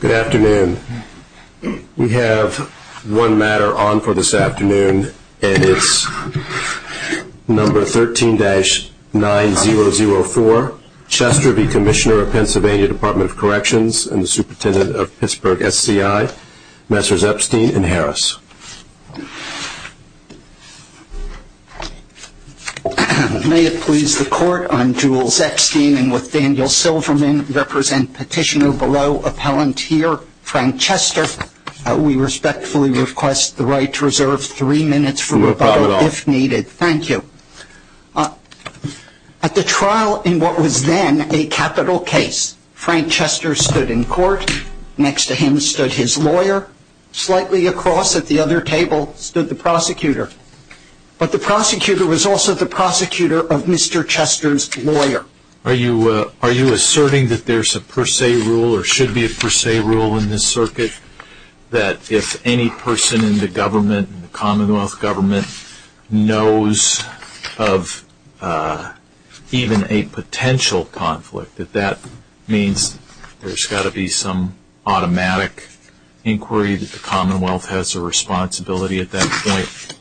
Good afternoon. We have one matter on for this afternoon, and it's number 13-9004. Chester v. Commissioner of PA Dept of Corrections and the Superintendent of Pittsburgh SCI, Messrs. Epstein and Harris. May it please the Court, I'm Jules Epstein and with Daniel Silverman represent petitioner below, appellant here, Frank Chester. We respectfully request the right to reserve three minutes for rebuttal if needed. Thank you. At the trial in what was then a capital case, Frank Chester stood in court, next to him stood his lawyer, slightly across at the other table stood the prosecutor. But the prosecutor was also the prosecutor of Mr. Chester's lawyer. Are you asserting that there's a per se rule or should be a per se rule in this circuit? That if any person in the government, in the Commonwealth government, knows of even a potential conflict, that that means there's got to be some automatic inquiry that the Commonwealth has a responsibility at that point?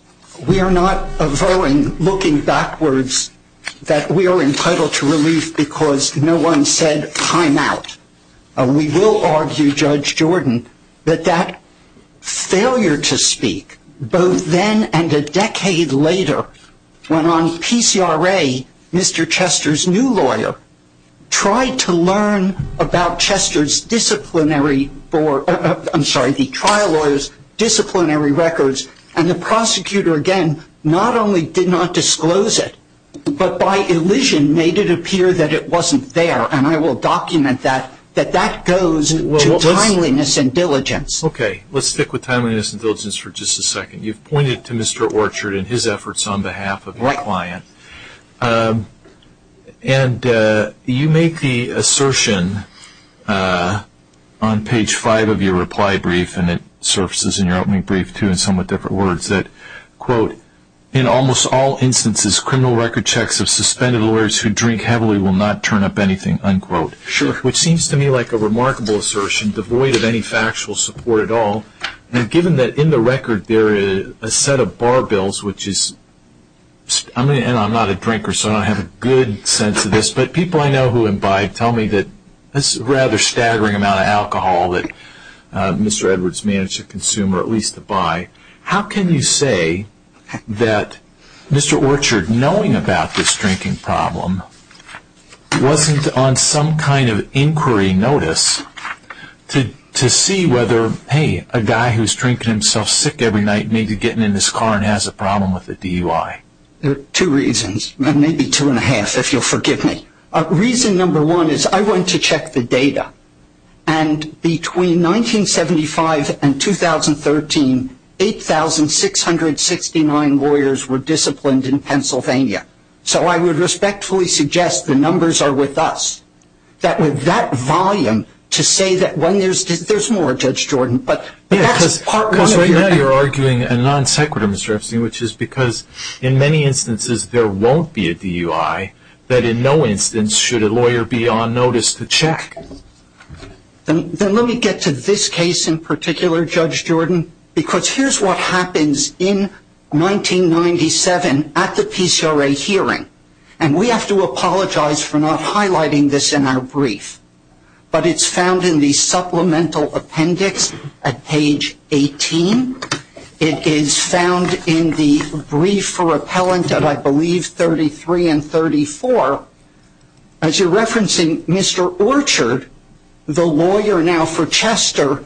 We are not avowing looking backwards that we are entitled to relief because no one said time out. We will argue, Judge Jordan, that that failure to speak, both then and a decade later, when on PCRA Mr. Chester's new lawyer tried to learn about Chester's disciplinary, I'm sorry, the trial lawyer's disciplinary records, and the prosecutor, again, not only did not disclose it, but by illusion made it appear that it wasn't there. And I will document that, that that goes to timeliness and diligence. Okay. Let's stick with timeliness and diligence for just a second. You've pointed to Mr. Orchard and his efforts on behalf of the client. And you make the assertion on page five of your reply brief, and it surfaces in your opening brief too in somewhat different words, that, quote, in almost all instances criminal record checks of suspended lawyers who drink heavily will not turn up anything, unquote. Sure. Which seems to me like a remarkable assertion devoid of any factual support at all. And given that in the record there is a set of bar bills, which is, and I'm not a drinker, so I don't have a good sense of this, but people I know who have been buying tell me that this is a rather staggering amount of alcohol that Mr. Edwards managed to consume or at least to buy. How can you say that Mr. Orchard, knowing about this drinking problem, wasn't on some kind of inquiry notice to see whether, hey, a guy who's drinking himself sick every night may be getting in his car and has a problem with the DUI? There are two reasons, maybe two and a half, if you'll forgive me. Reason number one is I went to check the data. And between 1975 and 2013, 8,669 lawyers were disciplined in Pennsylvania. So I would respectfully suggest the numbers are with us, that with that volume, to say that when there's more, Judge Jordan, but that's part one of your argument. Because right now you're arguing a non sequitur, Mr. Epstein, which is because in many instances there won't be a DUI, that in no instance should a lawyer be on notice to check. Then let me get to this case in particular, Judge Jordan, because here's what happens in 1997 at the PCRA hearing. And we have to apologize for not highlighting this in our brief. But it's found in the supplemental appendix at page 18. It is found in the brief for appellant at, I believe, 33 and 34. As you're referencing Mr. Orchard, the lawyer now for Chester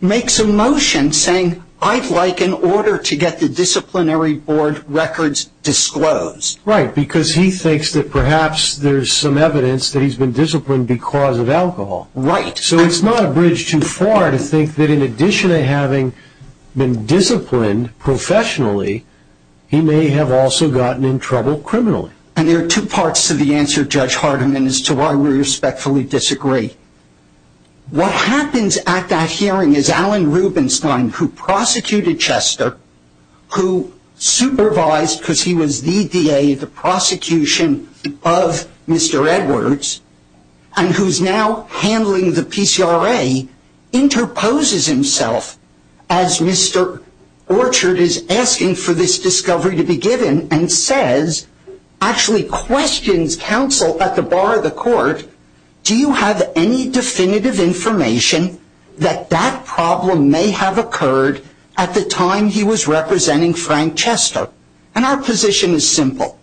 makes a motion saying, I'd like an order to get the disciplinary board records disclosed. Right, because he thinks that perhaps there's some evidence that he's been disciplined because of alcohol. Right. So it's not a bridge too far to think that in addition to having been disciplined professionally, he may have also gotten in trouble criminally. And there are two parts to the answer, Judge Hardiman, as to why we respectfully disagree. What happens at that hearing is Alan Rubinstein, who prosecuted Chester, who supervised because he was the DA of the prosecution of Mr. Edwards, and who's now handling the PCRA, interposes himself as Mr. Orchard is asking for this discovery to be given and says, actually questions counsel at the bar of the court, do you have any definitive information that that problem may have occurred at the time he was representing Frank Chester? And our position is simple,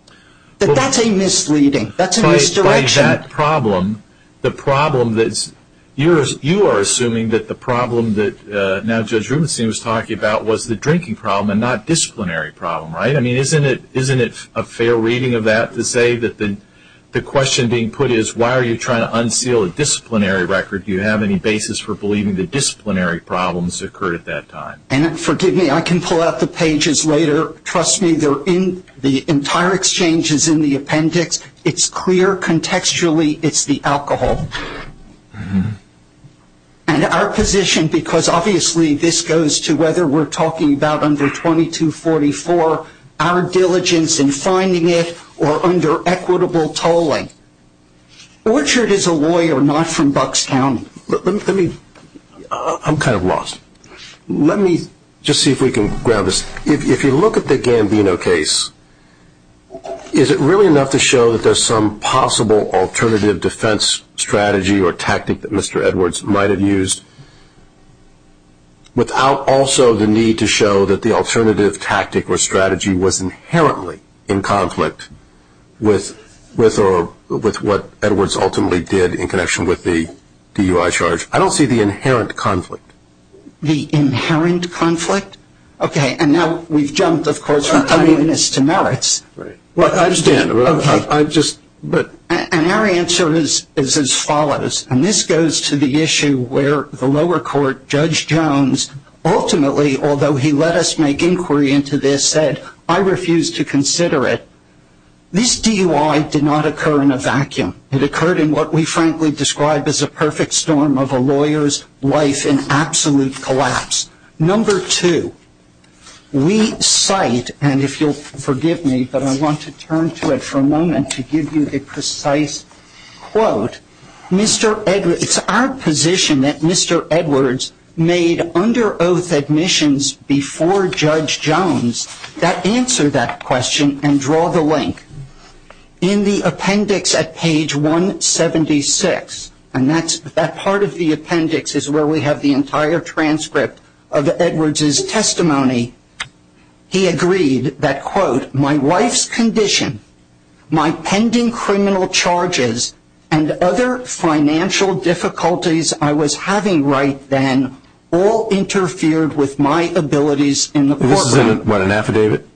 that that's a misleading, that's a misdirection. By that problem, the problem that's, you are assuming that the problem that now Judge Rubinstein was talking about was the drinking problem and not disciplinary problem, right? I mean, isn't it a fair reading of that to say that the question being put is, why are you trying to unseal a disciplinary record? Do you have any basis for believing that disciplinary problems occurred at that time? And forgive me, I can pull out the pages later. Trust me, the entire exchange is in the appendix. It's clear contextually it's the alcohol. And our position, because obviously this goes to whether we're talking about under 2244, our diligence in finding it or under equitable tolling. Orchard is a lawyer, not from Bucks County. Let me, I'm kind of lost. Let me just see if we can grab this. If you look at the Gambino case, is it really enough to show that there's some possible alternative defense strategy or tactic that Mr. Edwards might have used, without also the need to show that the alternative tactic or strategy was inherently in conflict with what Edwards ultimately did in connection with the DUI charge? I don't see the inherent conflict. The inherent conflict? Okay. And now we've jumped, of course, from timeliness to merits. I understand. Okay. And our answer is as follows. And this goes to the issue where the lower court, Judge Jones, ultimately, although he let us make inquiry into this, said, I refuse to consider it. This DUI did not occur in a vacuum. It occurred in what we frankly describe as a perfect storm of a lawyer's life in absolute collapse. Number two, we cite, and if you'll forgive me, but I want to turn to it for a moment to give you a precise quote. It's our position that Mr. Edwards made under oath admissions before Judge Jones that answer that question and draw the link. In the appendix at page 176, and that part of the appendix is where we have the entire transcript of Edwards' testimony, he agreed that, quote, my wife's condition, my pending criminal charges, and other financial difficulties I was having right then all interfered with my abilities in the courtroom. This is in what, an affidavit?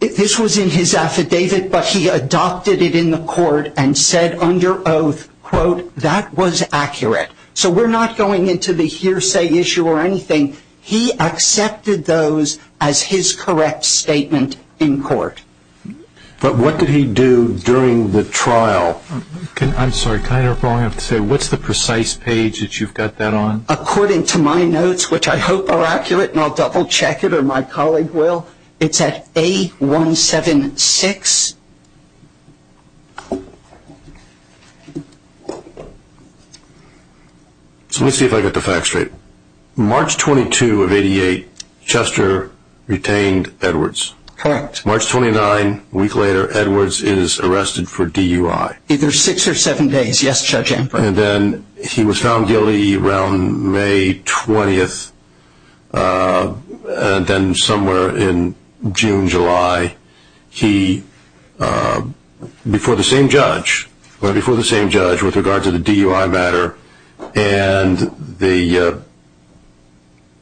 This was in his affidavit, but he adopted it in the court and said under oath, quote, that was accurate. So we're not going into the hearsay issue or anything. He accepted those as his correct statement in court. But what did he do during the trial? I'm sorry, can I interrupt while I have to say, what's the precise page that you've got that on? According to my notes, which I hope are accurate, and I'll double check it or my colleague will, it's at A176. So let me see if I get the facts straight. March 22 of 88, Chester retained Edwards. Correct. March 29, a week later, Edwards is arrested for DUI. Either six or seven days, yes, Judge Ambrose. And then he was found guilty around May 20th. And then somewhere in June, July, he, before the same judge, went before the same judge with regard to the DUI matter, and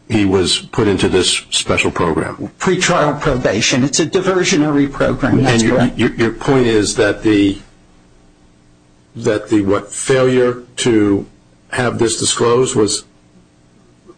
he was put into this special program. Pre-trial probation. It's a diversionary program. Your point is that the failure to have this disclosed was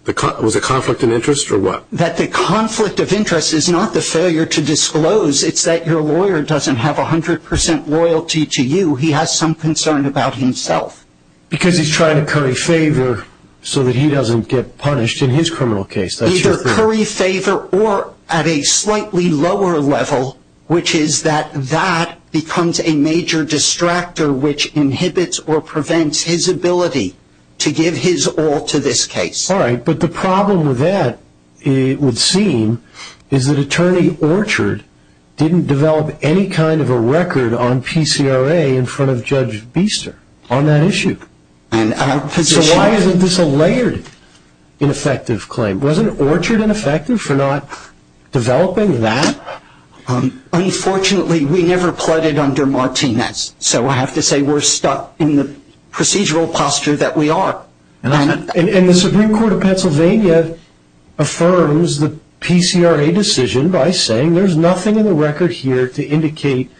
a conflict of interest or what? That the conflict of interest is not the failure to disclose. It's that your lawyer doesn't have 100% loyalty to you. He has some concern about himself. Because he's trying to curry favor so that he doesn't get punished in his criminal case. Either curry favor or at a slightly lower level, which is that that becomes a major distractor which inhibits or prevents his ability to give his all to this case. All right. But the problem with that, it would seem, is that Attorney Orchard didn't develop any kind of a record on PCRA in front of Judge Biester on that issue. So why isn't this a layered ineffective claim? Wasn't Orchard ineffective for not developing that? Unfortunately, we never plotted under Martinez. So I have to say we're stuck in the procedural posture that we are. And the Supreme Court of Pennsylvania affirms the PCRA decision by saying there's nothing in the record here to indicate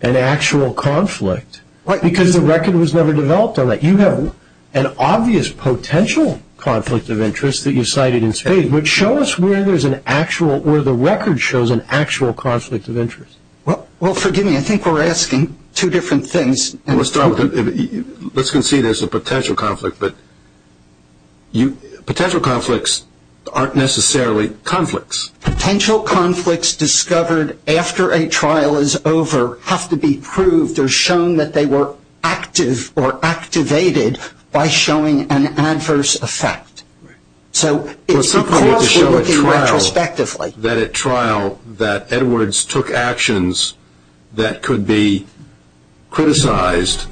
an actual conflict. Right. Because the record was never developed on that. You have an obvious potential conflict of interest that you cited in spades. But show us where the record shows an actual conflict of interest. Well, forgive me. I think we're asking two different things. Let's start with it. Let's concede there's a potential conflict. But potential conflicts aren't necessarily conflicts. Potential conflicts discovered after a trial is over have to be proved or shown that they were active or activated by showing an adverse effect. Right. So it's because we're looking retrospectively. It's important to show at trial that Edwards took actions that could be criticized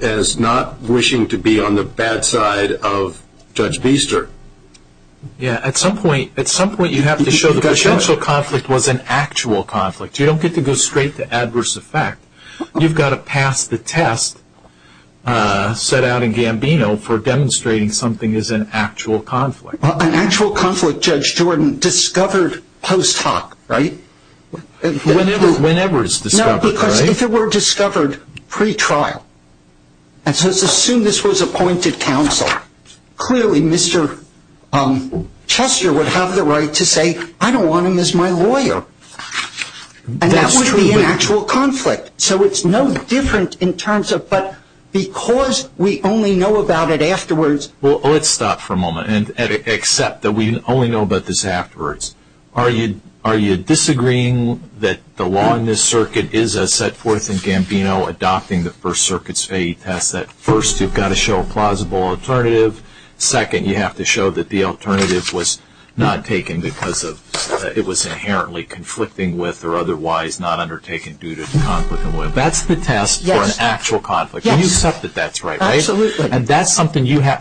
as not wishing to be on the bad side of Judge Biester. Yeah, at some point you have to show the potential conflict was an actual conflict. You don't get to go straight to adverse effect. You've got to pass the test set out in Gambino for demonstrating something is an actual conflict. An actual conflict, Judge Jordan, discovered post hoc, right? Whenever it's discovered, right? No, because if it were discovered pre-trial, and so let's assume this was appointed counsel, clearly Mr. Chester would have the right to say, I don't want him as my lawyer. And that would be an actual conflict. So it's no different in terms of but because we only know about it afterwards. Well, let's stop for a moment and accept that we only know about this afterwards. Are you disagreeing that the law in this circuit is as set forth in Gambino adopting the First Circuit's FAA test that first you've got to show a plausible alternative. Second, you have to show that the alternative was not taken because it was inherently conflicting with or otherwise not undertaken due to conflict. That's the test for an actual conflict. Yes. And you accept that that's right, right? Absolutely. And that's something you have.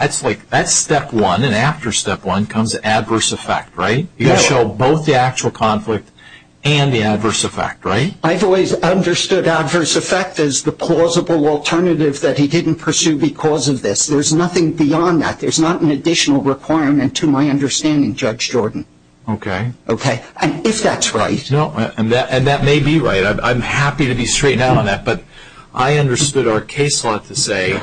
That's step one, and after step one comes adverse effect, right? You've got to show both the actual conflict and the adverse effect, right? I've always understood adverse effect as the plausible alternative that he didn't pursue because of this. There's nothing beyond that. There's not an additional requirement to my understanding, Judge Jordan. Okay. Okay. And if that's right. And that may be right. I'm happy to be straight down on that. But I understood our case law to say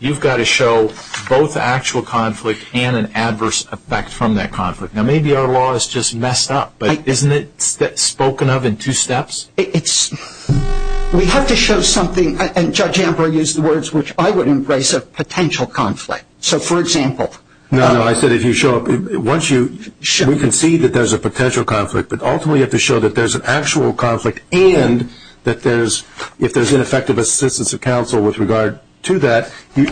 you've got to show both the actual conflict and an adverse effect from that conflict. Now, maybe our law is just messed up, but isn't it spoken of in two steps? We have to show something, and Judge Amber used the words which I would embrace, a potential conflict. So, for example. No, no. I said if you show up. We can see that there's a potential conflict, but ultimately you have to show that there's an actual conflict and that if there's ineffective assistance of counsel with regard to that, you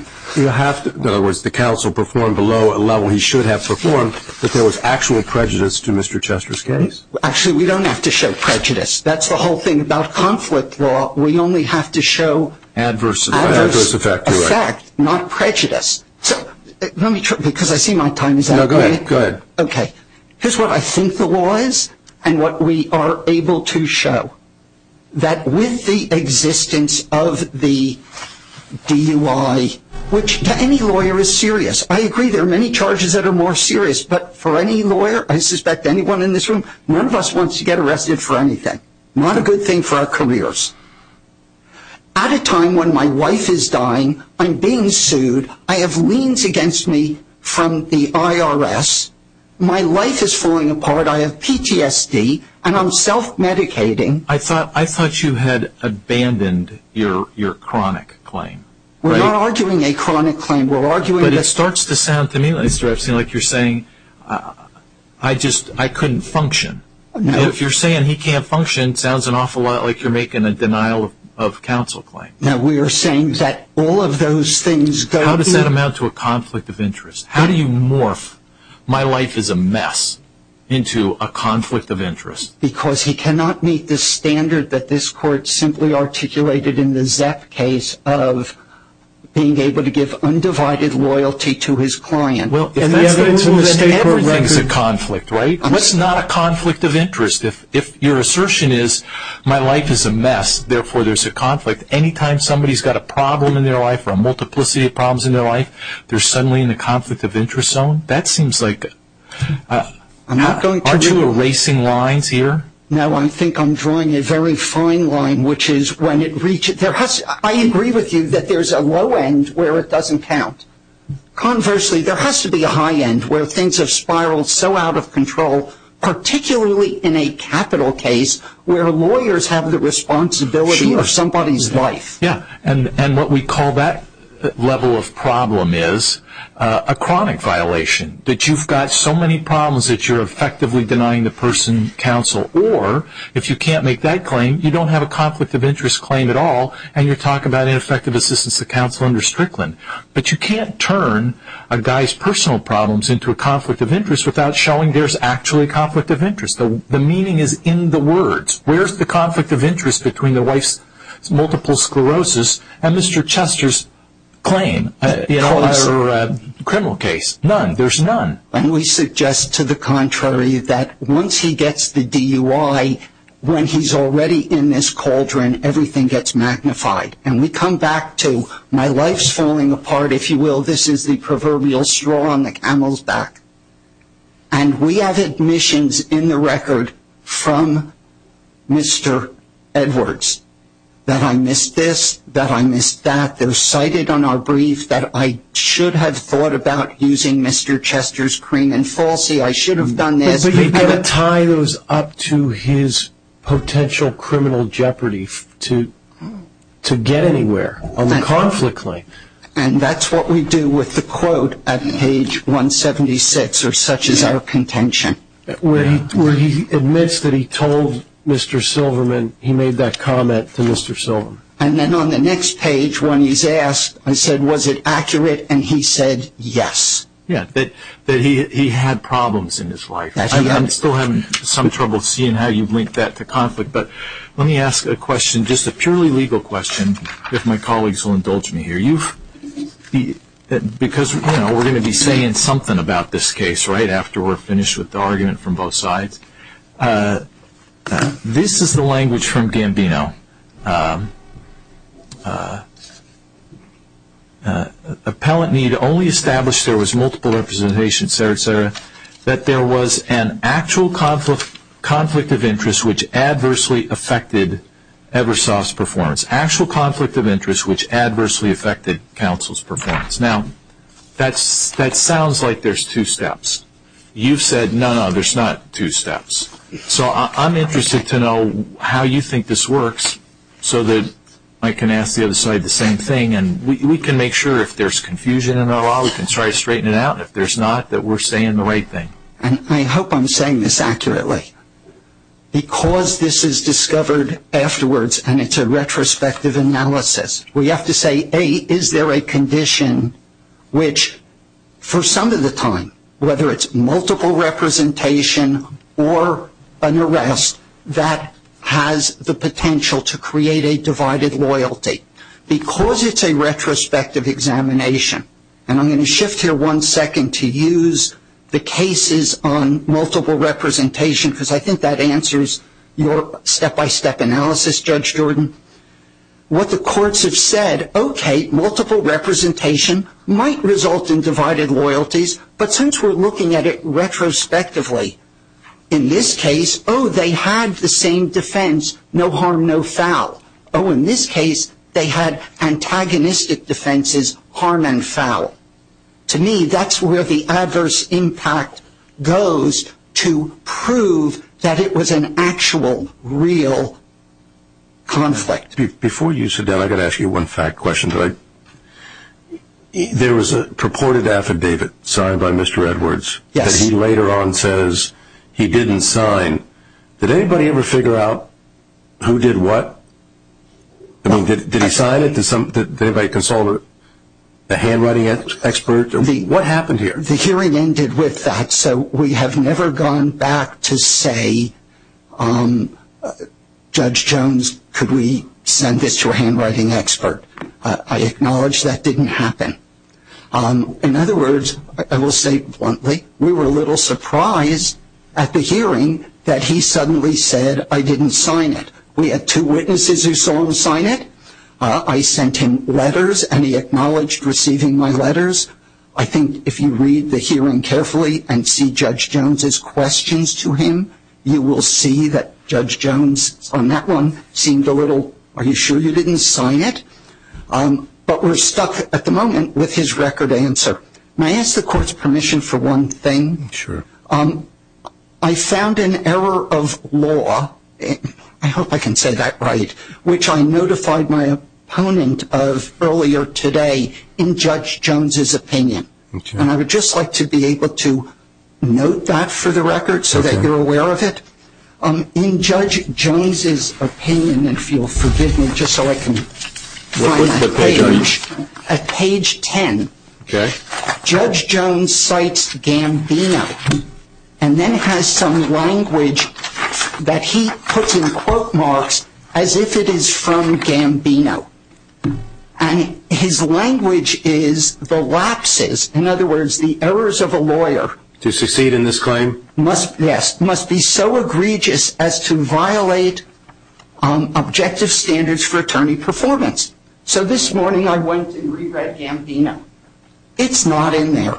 have to, in other words, the counsel performed below a level he should have performed, that there was actual prejudice to Mr. Chester's case. Actually, we don't have to show prejudice. That's the whole thing about conflict law. We only have to show adverse effect, not prejudice. Because I see my time is up. Go ahead. Okay. Here's what I think the law is and what we are able to show, that with the existence of the DUI, which to any lawyer is serious. I agree there are many charges that are more serious, but for any lawyer, I suspect anyone in this room, none of us wants to get arrested for anything. Not a good thing for our careers. At a time when my wife is dying, I'm being sued, I have liens against me from the IRS, my life is falling apart, I have PTSD, and I'm self-medicating. I thought you had abandoned your chronic claim. We're not arguing a chronic claim. It starts to sound to me like you're saying, I couldn't function. If you're saying he can't function, it sounds like you're making a denial of counsel claim. We are saying that all of those things go to... How does that amount to a conflict of interest? How do you morph, my life is a mess, into a conflict of interest? Because he cannot meet the standard that this court simply articulated in the ZEP case of being able to give undivided loyalty to his client. Everything is a conflict, right? What's not a conflict of interest? If your assertion is, my life is a mess, therefore there's a conflict. Anytime somebody's got a problem in their life, or a multiplicity of problems in their life, they're suddenly in a conflict of interest zone, that seems like... No, I think I'm drawing a very fine line, which is when it reaches... I agree with you that there's a low end where it doesn't count. Conversely, there has to be a high end where things have spiraled so out of control, particularly in a capital case where lawyers have the responsibility of somebody's life. Yeah, and what we call that level of problem is a chronic violation. That you've got so many problems that you're effectively denying the person counsel. Or, if you can't make that claim, you don't have a conflict of interest claim at all, and you're talking about ineffective assistance to counsel under Strickland. But you can't turn a guy's personal problems into a conflict of interest without showing there's actually a conflict of interest. The meaning is in the words. Where's the conflict of interest between the wife's multiple sclerosis and Mr. Chester's claim? Or a criminal case. None. There's none. And we suggest to the contrary that once he gets the DUI, when he's already in this cauldron, everything gets magnified. And we come back to, my life's falling apart, if you will, this is the proverbial straw on the camel's back. And we have admissions in the record from Mr. Edwards. That I missed this, that I missed that. They're cited on our brief that I should have thought about using Mr. Chester's cream and falsie. I should have done this. But you've got to tie those up to his potential criminal jeopardy to get anywhere on the conflict claim. And that's what we do with the quote at page 176, or such is our contention. Where he admits that he told Mr. Silverman, he made that comment to Mr. Silverman. And then on the next page, when he's asked, I said, was it accurate? And he said, yes. Yeah, that he had problems in his life. I'm still having some trouble seeing how you've linked that to conflict. But let me ask a question, just a purely legal question, if my colleagues will indulge me here. Because we're going to be saying something about this case right after we're finished with the argument from both sides. This is the language from Gambino. Appellant need only establish there was multiple representations, et cetera, et cetera. That there was an actual conflict of interest which adversely affected Eversoft's performance. Actual conflict of interest which adversely affected counsel's performance. Now, that sounds like there's two steps. You've said, no, no, there's not two steps. So I'm interested to know how you think this works so that I can ask the other side the same thing. And we can make sure if there's confusion in our law, we can try to straighten it out. And if there's not, that we're saying the right thing. And I hope I'm saying this accurately. Because this is discovered afterwards and it's a retrospective analysis. We have to say, A, is there a condition which for some of the time, whether it's multiple representation or an arrest, that has the potential to create a divided loyalty. Because it's a retrospective examination. And I'm going to shift here one second to use the cases on multiple representation. Because I think that answers your step-by-step analysis, Judge Jordan. What the courts have said, okay, multiple representation might result in divided loyalties. But since we're looking at it retrospectively, in this case, oh, they had the same defense, no harm, no foul. Oh, in this case, they had antagonistic defenses, harm and foul. To me, that's where the adverse impact goes to prove that it was an actual, real conflict. Before you sit down, I've got to ask you one fact question. There was a purported affidavit signed by Mr. Edwards that he later on says he didn't sign. Did anybody ever figure out who did what? Did he sign it? Did anybody consult a handwriting expert? What happened here? The hearing ended with that. So we have never gone back to say, Judge Jones, could we send this to a handwriting expert? I acknowledge that didn't happen. In other words, I will say bluntly, we were a little surprised at the hearing that he suddenly said, I didn't sign it. We had two witnesses who saw him sign it. I sent him letters, and he acknowledged receiving my letters. I think if you read the hearing carefully and see Judge Jones's questions to him, you will see that Judge Jones on that one seemed a little, are you sure you didn't sign it? But we're stuck at the moment with his record answer. May I ask the court's permission for one thing? Sure. I found an error of law, I hope I can say that right, which I notified my opponent of earlier today in Judge Jones's opinion. And I would just like to be able to note that for the record so that you're aware of it. In Judge Jones's opinion, if you'll forgive me just so I can find that page. What page are you? Page 10. Okay. Judge Jones cites Gambino, and then has some language that he puts in quote marks as if it is from Gambino. And his language is the lapses, in other words, the errors of a lawyer. To succeed in this claim? Yes. Must be so egregious as to violate objective standards for attorney performance. So this morning I went and re-read Gambino. It's not in there.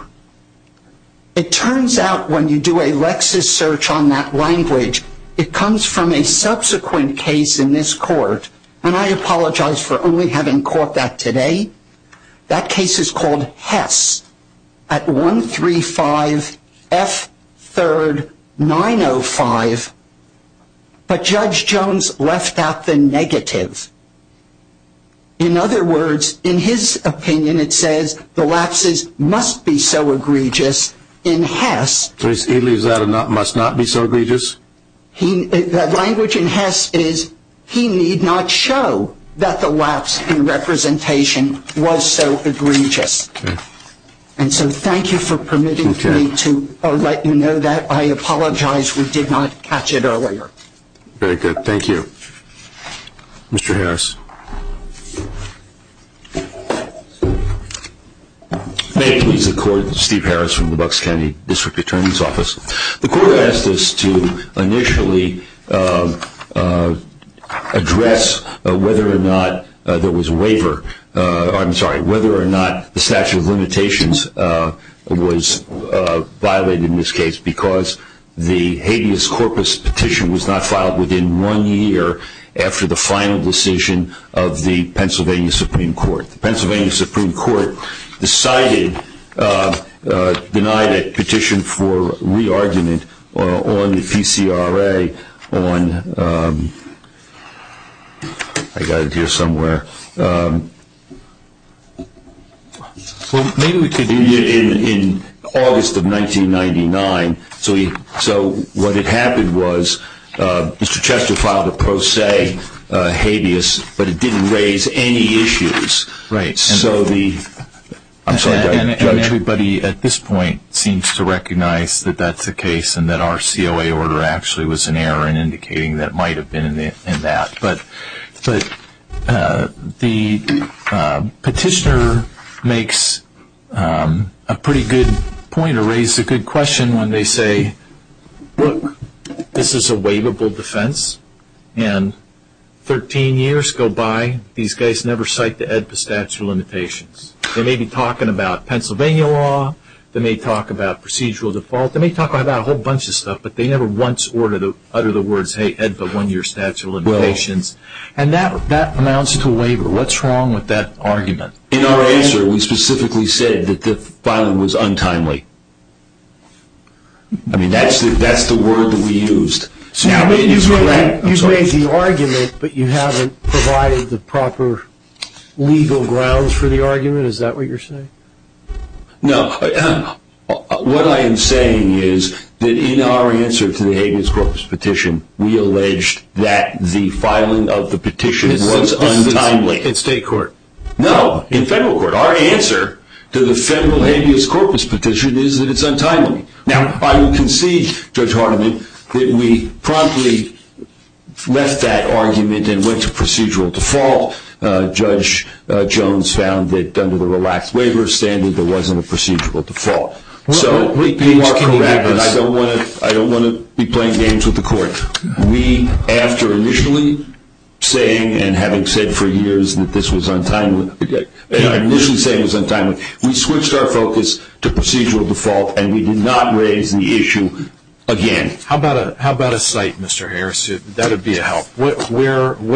It turns out when you do a Lexis search on that language, it comes from a subsequent case in this court, and I apologize for only having caught that today. That case is called Hess at 135F3905, but Judge Jones left out the negative. In other words, in his opinion it says the lapses must be so egregious in Hess. So he leaves out a must not be so egregious? That language in Hess is he need not show that the lapse in representation was so egregious. And so thank you for permitting me to let you know that. I apologize we did not catch it earlier. Very good. Thank you. Mr. Harris. May it please the court, Steve Harris from the Bucks County District Attorney's Office. The court asked us to initially address whether or not there was waiver, I'm sorry, whether or not the statute of limitations was violated in this case because the habeas corpus petition was not filed within one year after the final decision of the Pennsylvania Supreme Court. The Pennsylvania Supreme Court decided, denied a petition for re-argument on the PCRA on, I got it here somewhere, well maybe we could do it in August of 1999. So what had happened was Mr. Chester filed a pro se habeas but it didn't raise any issues. Right. So the, I'm sorry. And everybody at this point seems to recognize that that's the case and that our COA order actually was an error in indicating that it might have been in that. But the petitioner makes a pretty good point or raises a good question when they say, look, this is a waivable defense and 13 years go by, these guys never cite the EDFA statute of limitations. They may be talking about Pennsylvania law, they may talk about procedural default, they may talk about a whole bunch of stuff but they never once utter the words, hey EDFA one year statute of limitations. And that amounts to waiver. What's wrong with that argument? In our answer we specifically said that the filing was untimely. I mean that's the word that we used. Now you've made the argument but you haven't provided the proper legal grounds for the argument, is that what you're saying? No. What I am saying is that in our answer to the habeas corpus petition, we alleged that the filing of the petition was untimely. In state court? No, in federal court. Our answer to the federal habeas corpus petition is that it's untimely. Now I would concede, Judge Hardiman, that we promptly left that argument and went to procedural default. Judge Jones found that under the relaxed waiver standard there wasn't a procedural default. So you are correct and I don't want to be playing games with the court. We, after initially saying and having said for years that this was untimely, we switched our focus to procedural default and we did not raise the issue again. How about a cite, Mr. Harris? That would be a help. What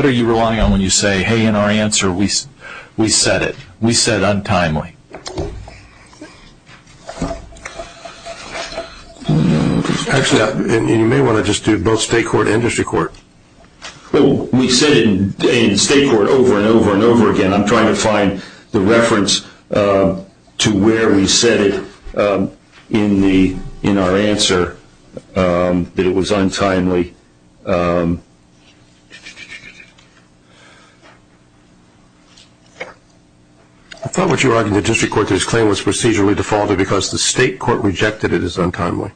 are you relying on when you say, hey, in our answer we said it? We said untimely. Actually, you may want to just do both state court and district court. We said it in state court over and over and over again. I'm trying to find the reference to where we said it in our answer that it was untimely. I thought what you argued in the district court that his claim was procedurally defaulted because the state court rejected it as untimely.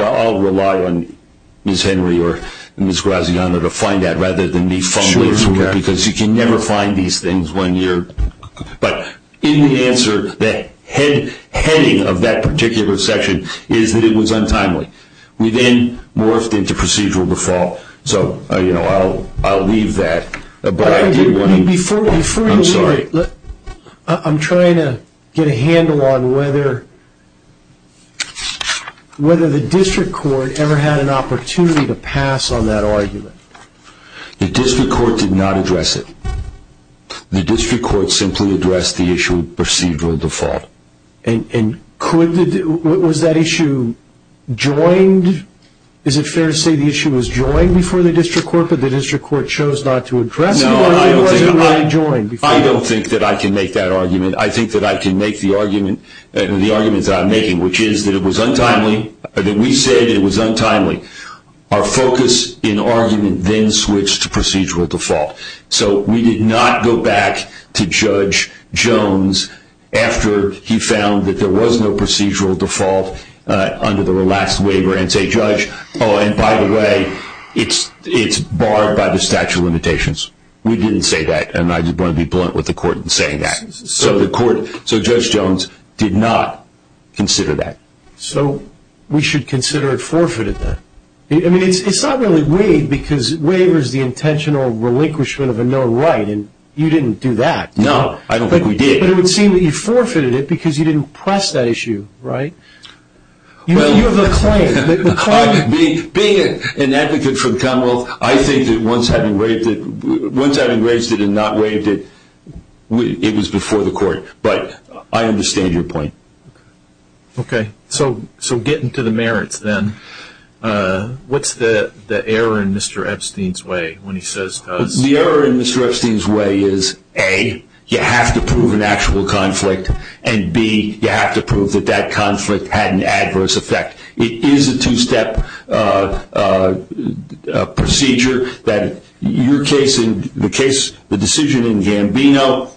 I'll rely on Ms. Henry or Ms. Graziano to find that rather than me fumbling through it because you can never find these things. But in the answer, the heading of that particular section is that it was untimely. We then morphed into procedural default. So I'll leave that. Before you leave it, I'm trying to get a handle on whether the district court ever had an opportunity to pass on that argument. The district court did not address it. The district court simply addressed the issue of procedural default. Was that issue joined? No, I don't think that I can make that argument. I think that I can make the arguments that I'm making, which is that we said it was untimely. Our focus in argument then switched to procedural default. So we did not go back to Judge Jones after he found that there was no procedural default under the last waiver and say, Oh, and by the way, it's barred by the statute of limitations. We didn't say that, and I'm going to be blunt with the court in saying that. So Judge Jones did not consider that. So we should consider it forfeited then? I mean, it's not really waived because waiver is the intentional relinquishment of a known right, and you didn't do that. No, I don't think we did. But it would seem that you forfeited it because you didn't press that issue, right? You have a claim. Being an advocate for the Commonwealth, I think that once having raised it and not waived it, it was before the court. But I understand your point. Okay, so getting to the merits then, what's the error in Mr. Epstein's way when he says, The error in Mr. Epstein's way is, A, you have to prove an actual conflict, and, B, you have to prove that that conflict had an adverse effect. It is a two-step procedure. The decision in Gambino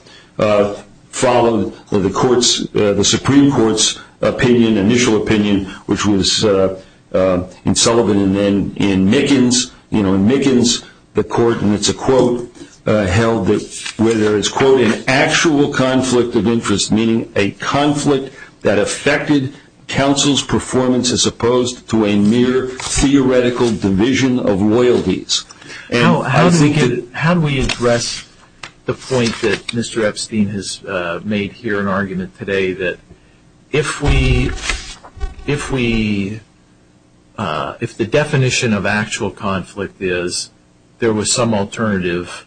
followed the Supreme Court's initial opinion, which was in Sullivan and then in Mickens. And it's a quote held where there is, An actual conflict of interest, meaning a conflict that affected counsel's performance as opposed to a mere theoretical division of loyalties. How do we address the point that Mr. Epstein has made here in argument today, that if the definition of actual conflict is there was some alternative,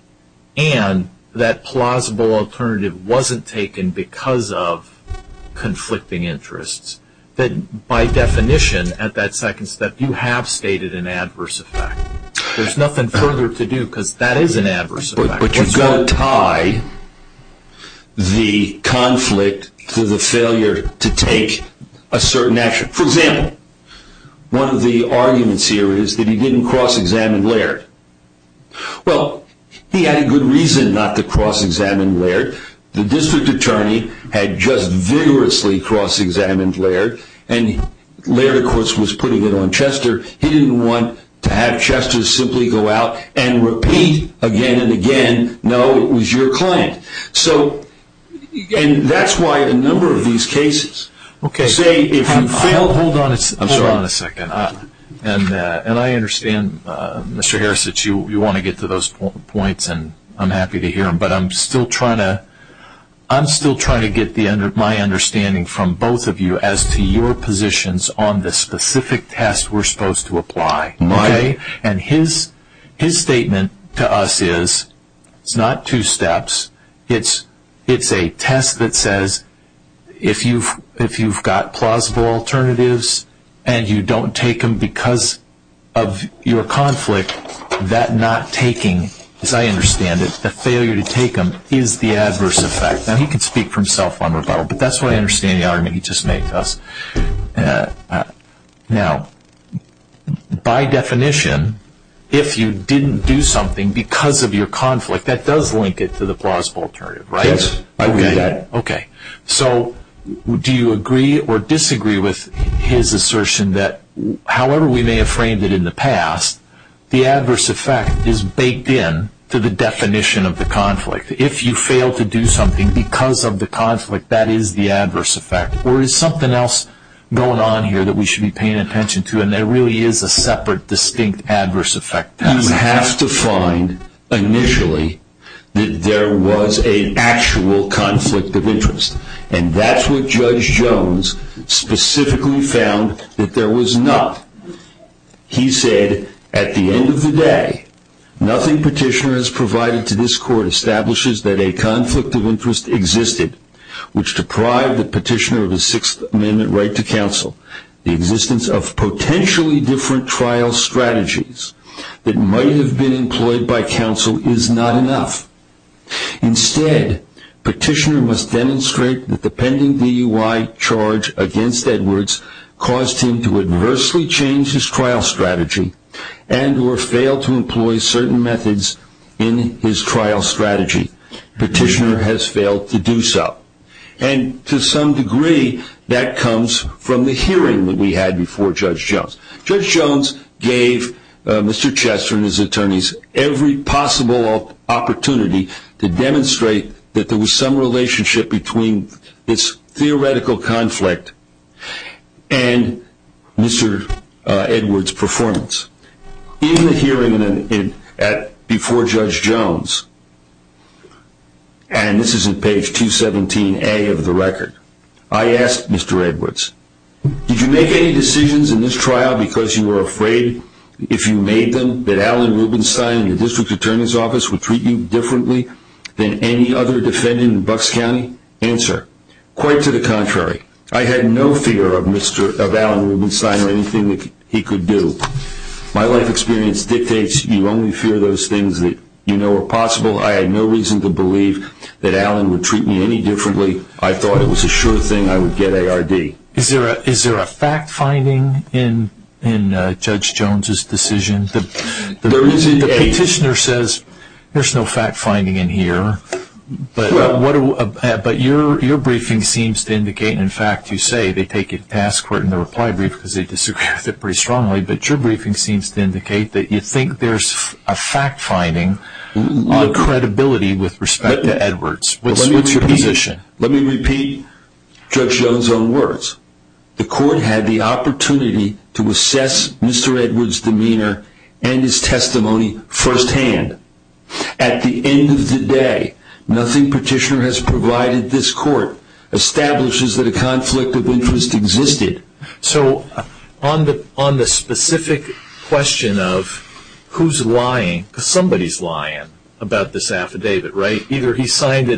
and that plausible alternative wasn't taken because of conflicting interests, then by definition at that second step, you have stated an adverse effect. There's nothing further to do because that is an adverse effect. But you've got to tie the conflict to the failure to take a certain action. For example, one of the arguments here is that he didn't cross-examine Laird. Well, he had a good reason not to cross-examine Laird. The district attorney had just vigorously cross-examined Laird, and Laird, of course, was putting it on Chester. He didn't want to have Chester simply go out and repeat again and again, no, it was your client. And that's why a number of these cases say if you failed. Hold on a second. And I understand, Mr. Harris, that you want to get to those points, and I'm happy to hear them. But I'm still trying to get my understanding from both of you as to your positions on the specific test we're supposed to apply. And his statement to us is it's not two steps. It's a test that says if you've got plausible alternatives and you don't take them because of your conflict, that not taking, as I understand it, the failure to take them is the adverse effect. Now, he can speak for himself on rebuttal, but that's what I understand the argument he just made to us. Now, by definition, if you didn't do something because of your conflict, that does link it to the plausible alternative, right? Yes. Okay. So do you agree or disagree with his assertion that, however we may have framed it in the past, the adverse effect is baked in to the definition of the conflict? If you fail to do something because of the conflict, that is the adverse effect? Or is something else going on here that we should be paying attention to, and there really is a separate, distinct adverse effect test? You have to find, initially, that there was an actual conflict of interest. And that's what Judge Jones specifically found, that there was not. He said, at the end of the day, nothing Petitioner has provided to this Court establishes that a conflict of interest existed, which deprived the Petitioner of a Sixth Amendment right to counsel. The existence of potentially different trial strategies that might have been employed by counsel is not enough. Instead, Petitioner must demonstrate that the pending DUI charge against Edwards caused him to adversely change his trial strategy and or fail to employ certain methods in his trial strategy. Petitioner has failed to do so. And to some degree, that comes from the hearing that we had before Judge Jones. Judge Jones gave Mr. Chester and his attorneys every possible opportunity to demonstrate that there was some relationship between this theoretical conflict and Mr. Edwards' performance. In the hearing before Judge Jones, and this is on page 217A of the record, I asked Mr. Edwards, did you make any decisions in this trial because you were afraid, if you made them, that Allen Rubenstein and your district attorney's office would treat you differently than any other defendant in Bucks County? Answer, quite to the contrary. I had no fear of Allen Rubenstein or anything that he could do. My life experience dictates you only fear those things that you know are possible. I had no reason to believe that Allen would treat me any differently. I thought it was a sure thing I would get ARD. Is there a fact-finding in Judge Jones' decision? The petitioner says there's no fact-finding in here, but your briefing seems to indicate, and in fact you say they take it to task in the reply brief because they disagree with it pretty strongly, but your briefing seems to indicate that you think there's a fact-finding on credibility with respect to Edwards. What's your position? Let me repeat Judge Jones' own words. The court had the opportunity to assess Mr. Edwards' demeanor and his testimony firsthand. At the end of the day, nothing petitioner has provided this court establishes that a conflict of interest existed. So on the specific question of who's lying, because somebody's lying about this affidavit, right? Whether he changed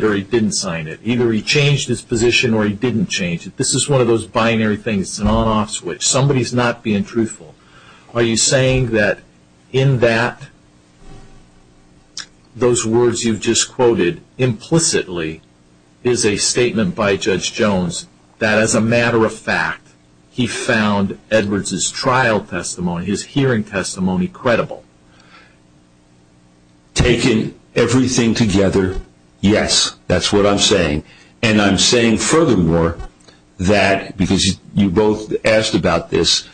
his position or he didn't change it, this is one of those binary things. It's an on-off switch. Somebody's not being truthful. Are you saying that in that, those words you've just quoted implicitly is a statement by Judge Jones that as a matter of fact he found Edwards' trial testimony, his hearing testimony, credible? Taken everything together, yes. That's what I'm saying. And I'm saying furthermore that because you both asked about this,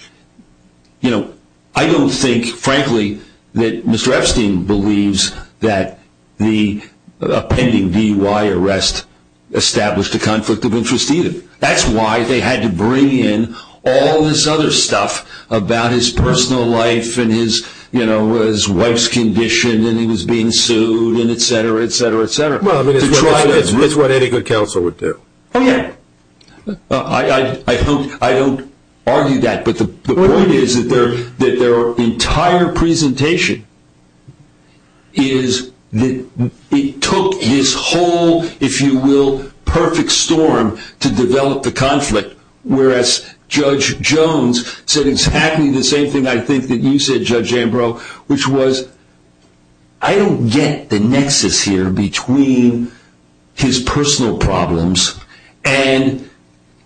you know, I don't think frankly that Mr. Epstein believes that the pending DUI arrest established a conflict of interest either. That's why they had to bring in all this other stuff about his personal life and his wife's condition and he was being sued and et cetera, et cetera, et cetera. Well, I mean, it's what any good counsel would do. Oh, yeah. I don't argue that. But the point is that their entire presentation is that it took his whole, if you will, perfect storm to develop the conflict, whereas Judge Jones said exactly the same thing I think that you said, Judge Ambrose, which was I don't get the nexus here between his personal problems and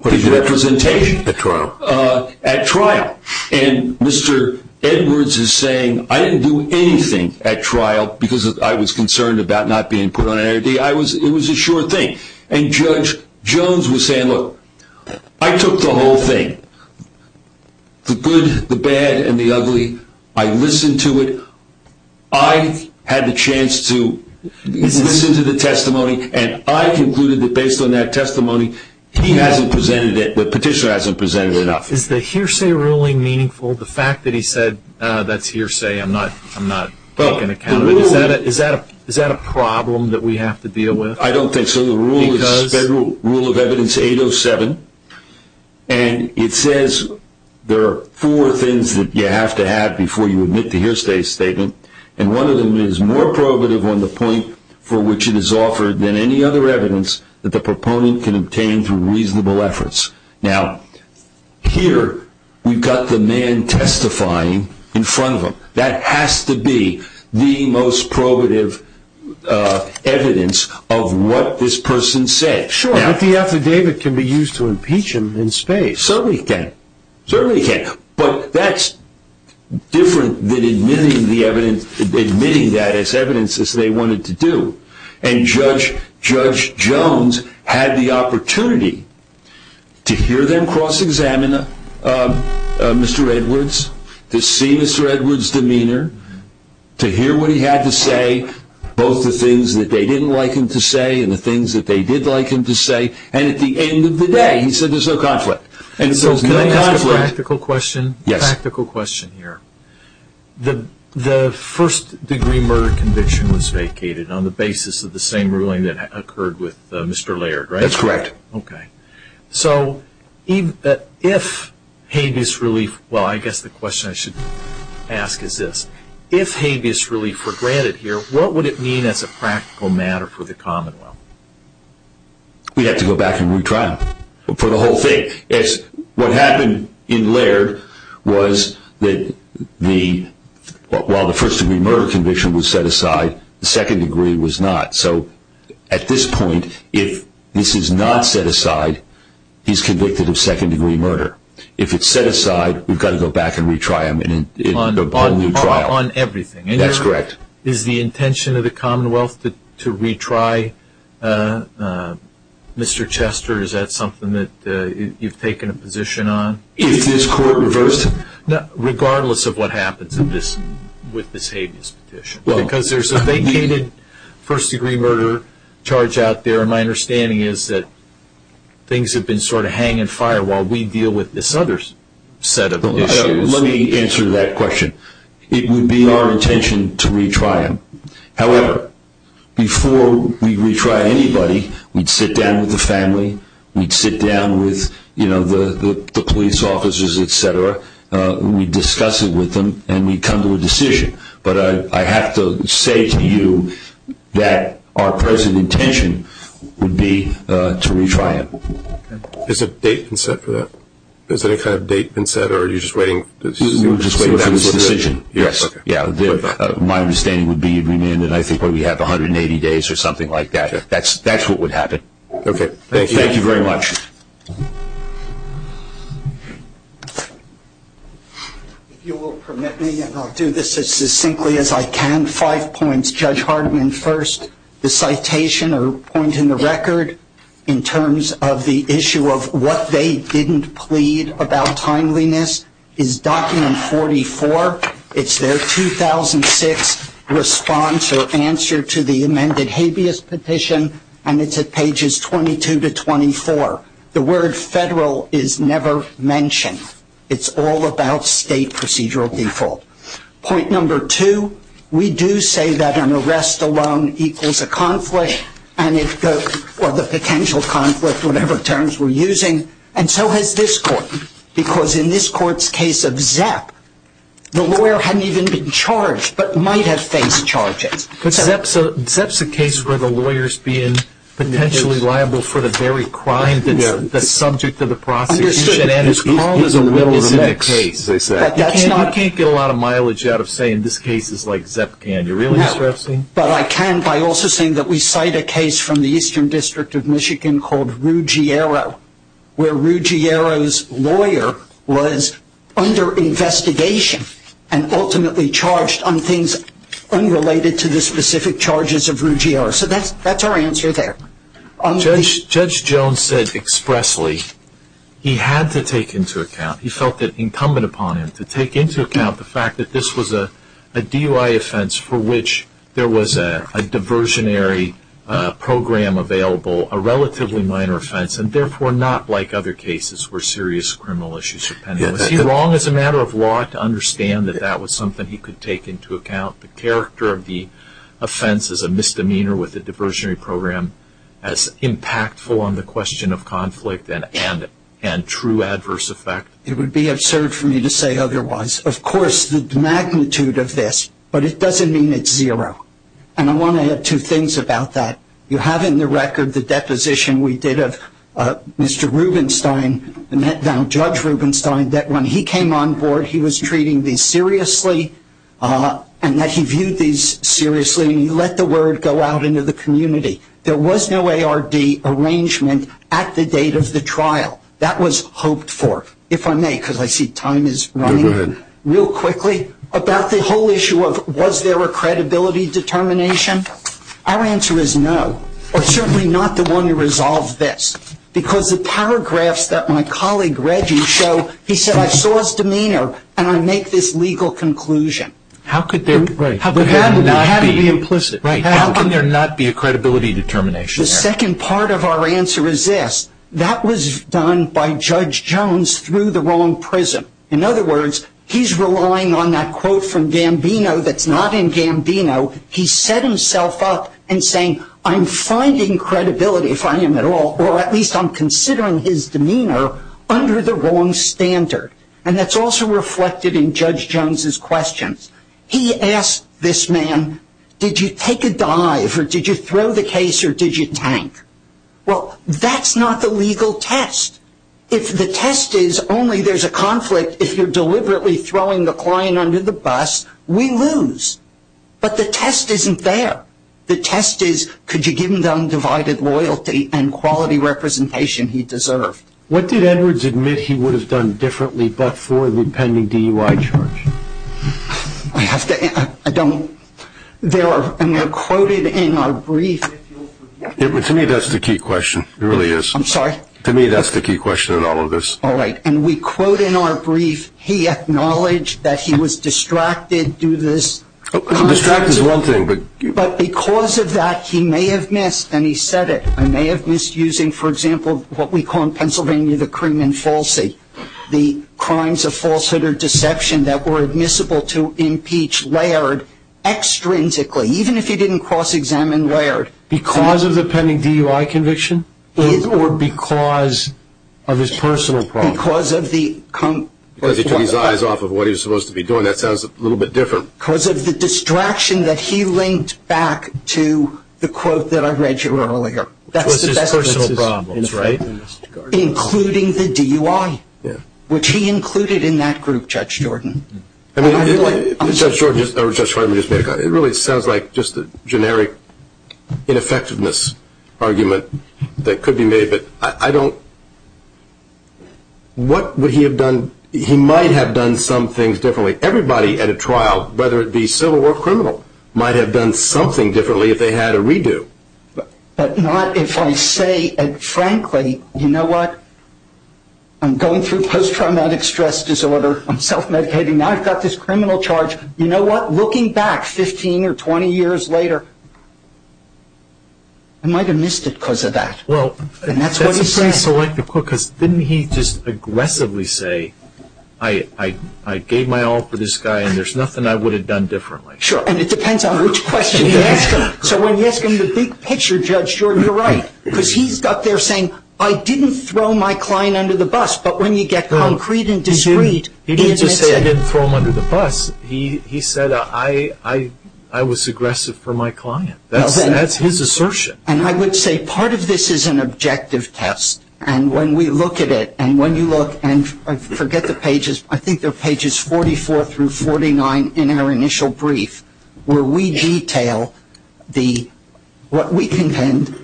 his representation. At trial. At trial. And Mr. Edwards is saying I didn't do anything at trial because I was concerned about not being put on ARD. It was a sure thing. And Judge Jones was saying, look, I took the whole thing, the good, the bad, and the ugly. I listened to it. I had the chance to listen to the testimony and I concluded that based on that testimony he hasn't presented it, the petitioner hasn't presented enough. Is the hearsay ruling meaningful? The fact that he said that's hearsay, I'm not taking account of it. Is that a problem that we have to deal with? I don't think so. The rule is Federal Rule of Evidence 807, and it says there are four things that you have to have before you admit to hearsay statement, and one of them is more probative on the point for which it is offered than any other evidence that the proponent can obtain through reasonable efforts. Now, here we've got the man testifying in front of him. That has to be the most probative evidence of what this person said. Sure, but the affidavit can be used to impeach him in space. Certainly can. Certainly can. But that's different than admitting that as evidence as they wanted to do, and Judge Jones had the opportunity to hear them cross-examine Mr. Edwards, to see Mr. Edwards' demeanor, to hear what he had to say, both the things that they didn't like him to say and the things that they did like him to say, and at the end of the day he said there's no conflict. And so can I ask a practical question? Yes. A practical question here. The first degree murder conviction was vacated on the basis of the same ruling that occurred with Mr. Laird, right? That's correct. Okay. So if habeas relief, well, I guess the question I should ask is this. If habeas relief were granted here, what would it mean as a practical matter for the Commonwealth? We'd have to go back and retry him for the whole thing. What happened in Laird was that while the first degree murder conviction was set aside, the second degree was not. So at this point, if this is not set aside, he's convicted of second degree murder. If it's set aside, we've got to go back and retry him in a whole new trial. On everything. That's correct. Is the intention of the Commonwealth to retry Mr. Chester? Is that something that you've taken a position on? If this court reversed him. Regardless of what happens with this habeas petition. Because there's a vacated first degree murder charge out there, and my understanding is that things have been sort of hanging fire while we deal with this other set of issues. Let me answer that question. It would be our intention to retry him. However, before we retry anybody, we'd sit down with the family. We'd sit down with the police officers, et cetera. We'd discuss it with them, and we'd come to a decision. But I have to say to you that our present intention would be to retry him. Has a date been set for that? Has any kind of date been set, or are you just waiting? We're just waiting for this decision. Yes. My understanding would be you bring in, and I think we have 180 days or something like that. That's what would happen. Okay. Thank you very much. If you will permit me, and I'll do this as succinctly as I can. Five points. Judge Hartman first. The citation or point in the record in terms of the issue of what they didn't plead about timeliness is document 44. It's their 2006 response or answer to the amended habeas petition, and it's at pages 22 to 24. The word federal is never mentioned. It's all about state procedural default. Point number two. We do say that an arrest alone equals a conflict, or the potential conflict, whatever terms we're using. And so has this court, because in this court's case of Zepp, the lawyer hadn't even been charged but might have faced charges. Zepp's a case where the lawyer's being potentially liable for the very crime that's subject to the prosecution. You can't get a lot of mileage out of saying this case is like Zepp, can you, really, Mr. Epstein? No, but I can by also saying that we cite a case from the Eastern District of Michigan called Ruggiero, where Ruggiero's lawyer was under investigation and ultimately charged on things unrelated to the specific charges of Ruggiero. So that's our answer there. Judge Jones said expressly he had to take into account, he felt it incumbent upon him to take into account the fact that this was a DUI offense for which there was a diversionary program available, a relatively minor offense, and therefore not like other cases where serious criminal issues were pending. Was he wrong as a matter of law to understand that that was something he could take into account? The character of the offense is a misdemeanor with a diversionary program as impactful on the question of conflict and true adverse effect? It would be absurd for me to say otherwise. Of course, the magnitude of this, but it doesn't mean it's zero. And I want to add two things about that. You have in the record the deposition we did of Mr. Rubenstein, now Judge Rubenstein, that when he came on board he was treating these seriously and that he viewed these seriously and he let the word go out into the community. There was no ARD arrangement at the date of the trial. That was hoped for, if I may, because I see time is running real quickly, about the whole issue of was there a credibility determination? Our answer is no, or certainly not the one to resolve this, because the paragraphs that my colleague Reggie showed, he said, I saw his demeanor and I make this legal conclusion. How could there not be a credibility determination? The second part of our answer is this. That was done by Judge Jones through the wrong prism. In other words, he's relying on that quote from Gambino that's not in Gambino. He set himself up in saying, I'm finding credibility, if I am at all, or at least I'm considering his demeanor under the wrong standard. And that's also reflected in Judge Jones' questions. He asked this man, did you take a dive or did you throw the case or did you tank? Well, that's not the legal test. If the test is only there's a conflict if you're deliberately throwing the client under the bus, we lose. But the test isn't there. The test is could you give him the undivided loyalty and quality representation he deserved. What did Edwards admit he would have done differently but for the pending DUI charge? I don't. And they're quoted in our brief. To me that's the key question. It really is. I'm sorry? To me that's the key question in all of this. All right. And we quote in our brief, he acknowledged that he was distracted due to this. Distracted is one thing. But because of that he may have missed, and he said it, I may have missed using, for example, what we call in Pennsylvania the cream and falsie, the crimes of falsehood or deception that were admissible to impeach Laird extrinsically, even if he didn't cross-examine Laird. Because of the pending DUI conviction? Or because of his personal problems? Because he took his eyes off of what he was supposed to be doing. That sounds a little bit different. Because of the distraction that he linked back to the quote that I read to you earlier. That's his personal problems, right? Including the DUI, which he included in that group, Judge Jordan. I mean, Judge Jordan just made a comment. It really sounds like just a generic ineffectiveness argument that could be made. What would he have done? He might have done some things differently. Everybody at a trial, whether it be civil or criminal, might have done something differently if they had a redo. But not if I say, frankly, you know what? I'm going through post-traumatic stress disorder. I'm self-medicating. Now I've got this criminal charge. You know what? Looking back 15 or 20 years later, I might have missed it because of that. Well, that's a pretty selective quote because didn't he just aggressively say, I gave my all for this guy and there's nothing I would have done differently? Sure. And it depends on which question you ask him. So when you ask him the big picture, Judge Jordan, you're right. Because he's up there saying, I didn't throw my client under the bus. But when you get concrete and discreet. He didn't just say I didn't throw him under the bus. He said, I was aggressive for my client. That's his assertion. And I would say part of this is an objective test. And when we look at it, and when you look and forget the pages, I think they're pages 44 through 49 in our initial brief where we detail what we contend.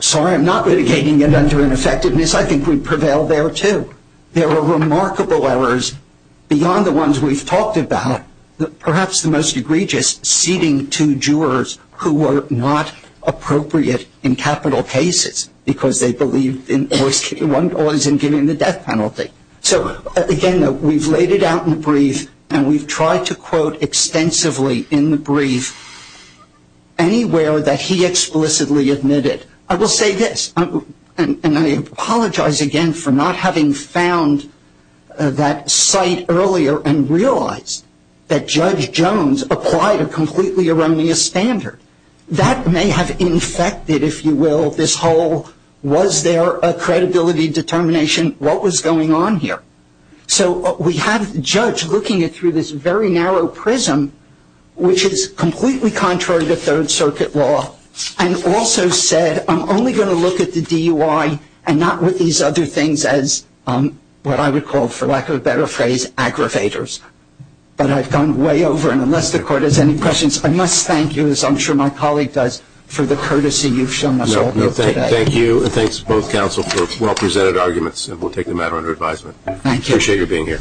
Sorry, I'm not litigating it under ineffectiveness. I think we prevail there, too. There are remarkable errors beyond the ones we've talked about. Perhaps the most egregious, seating two jurors who were not appropriate in capital cases because they believed one was in giving the death penalty. So, again, we've laid it out in the brief and we've tried to quote extensively in the brief anywhere that he explicitly admitted. I will say this, and I apologize again for not having found that site earlier and realized that Judge Jones applied a completely erroneous standard. That may have infected, if you will, this whole, was there a credibility determination? What was going on here? So we have the judge looking it through this very narrow prism, which is completely contrary to Third Circuit law, and also said I'm only going to look at the DUI and not with these other things as what I would call, for lack of a better phrase, aggravators. But I've gone way over, and unless the Court has any questions, I must thank you, as I'm sure my colleague does, for the courtesy you've shown us all today. Thank you, and thanks to both counsel for well-presented arguments, and we'll take the matter under advisement. Thank you. I appreciate your being here.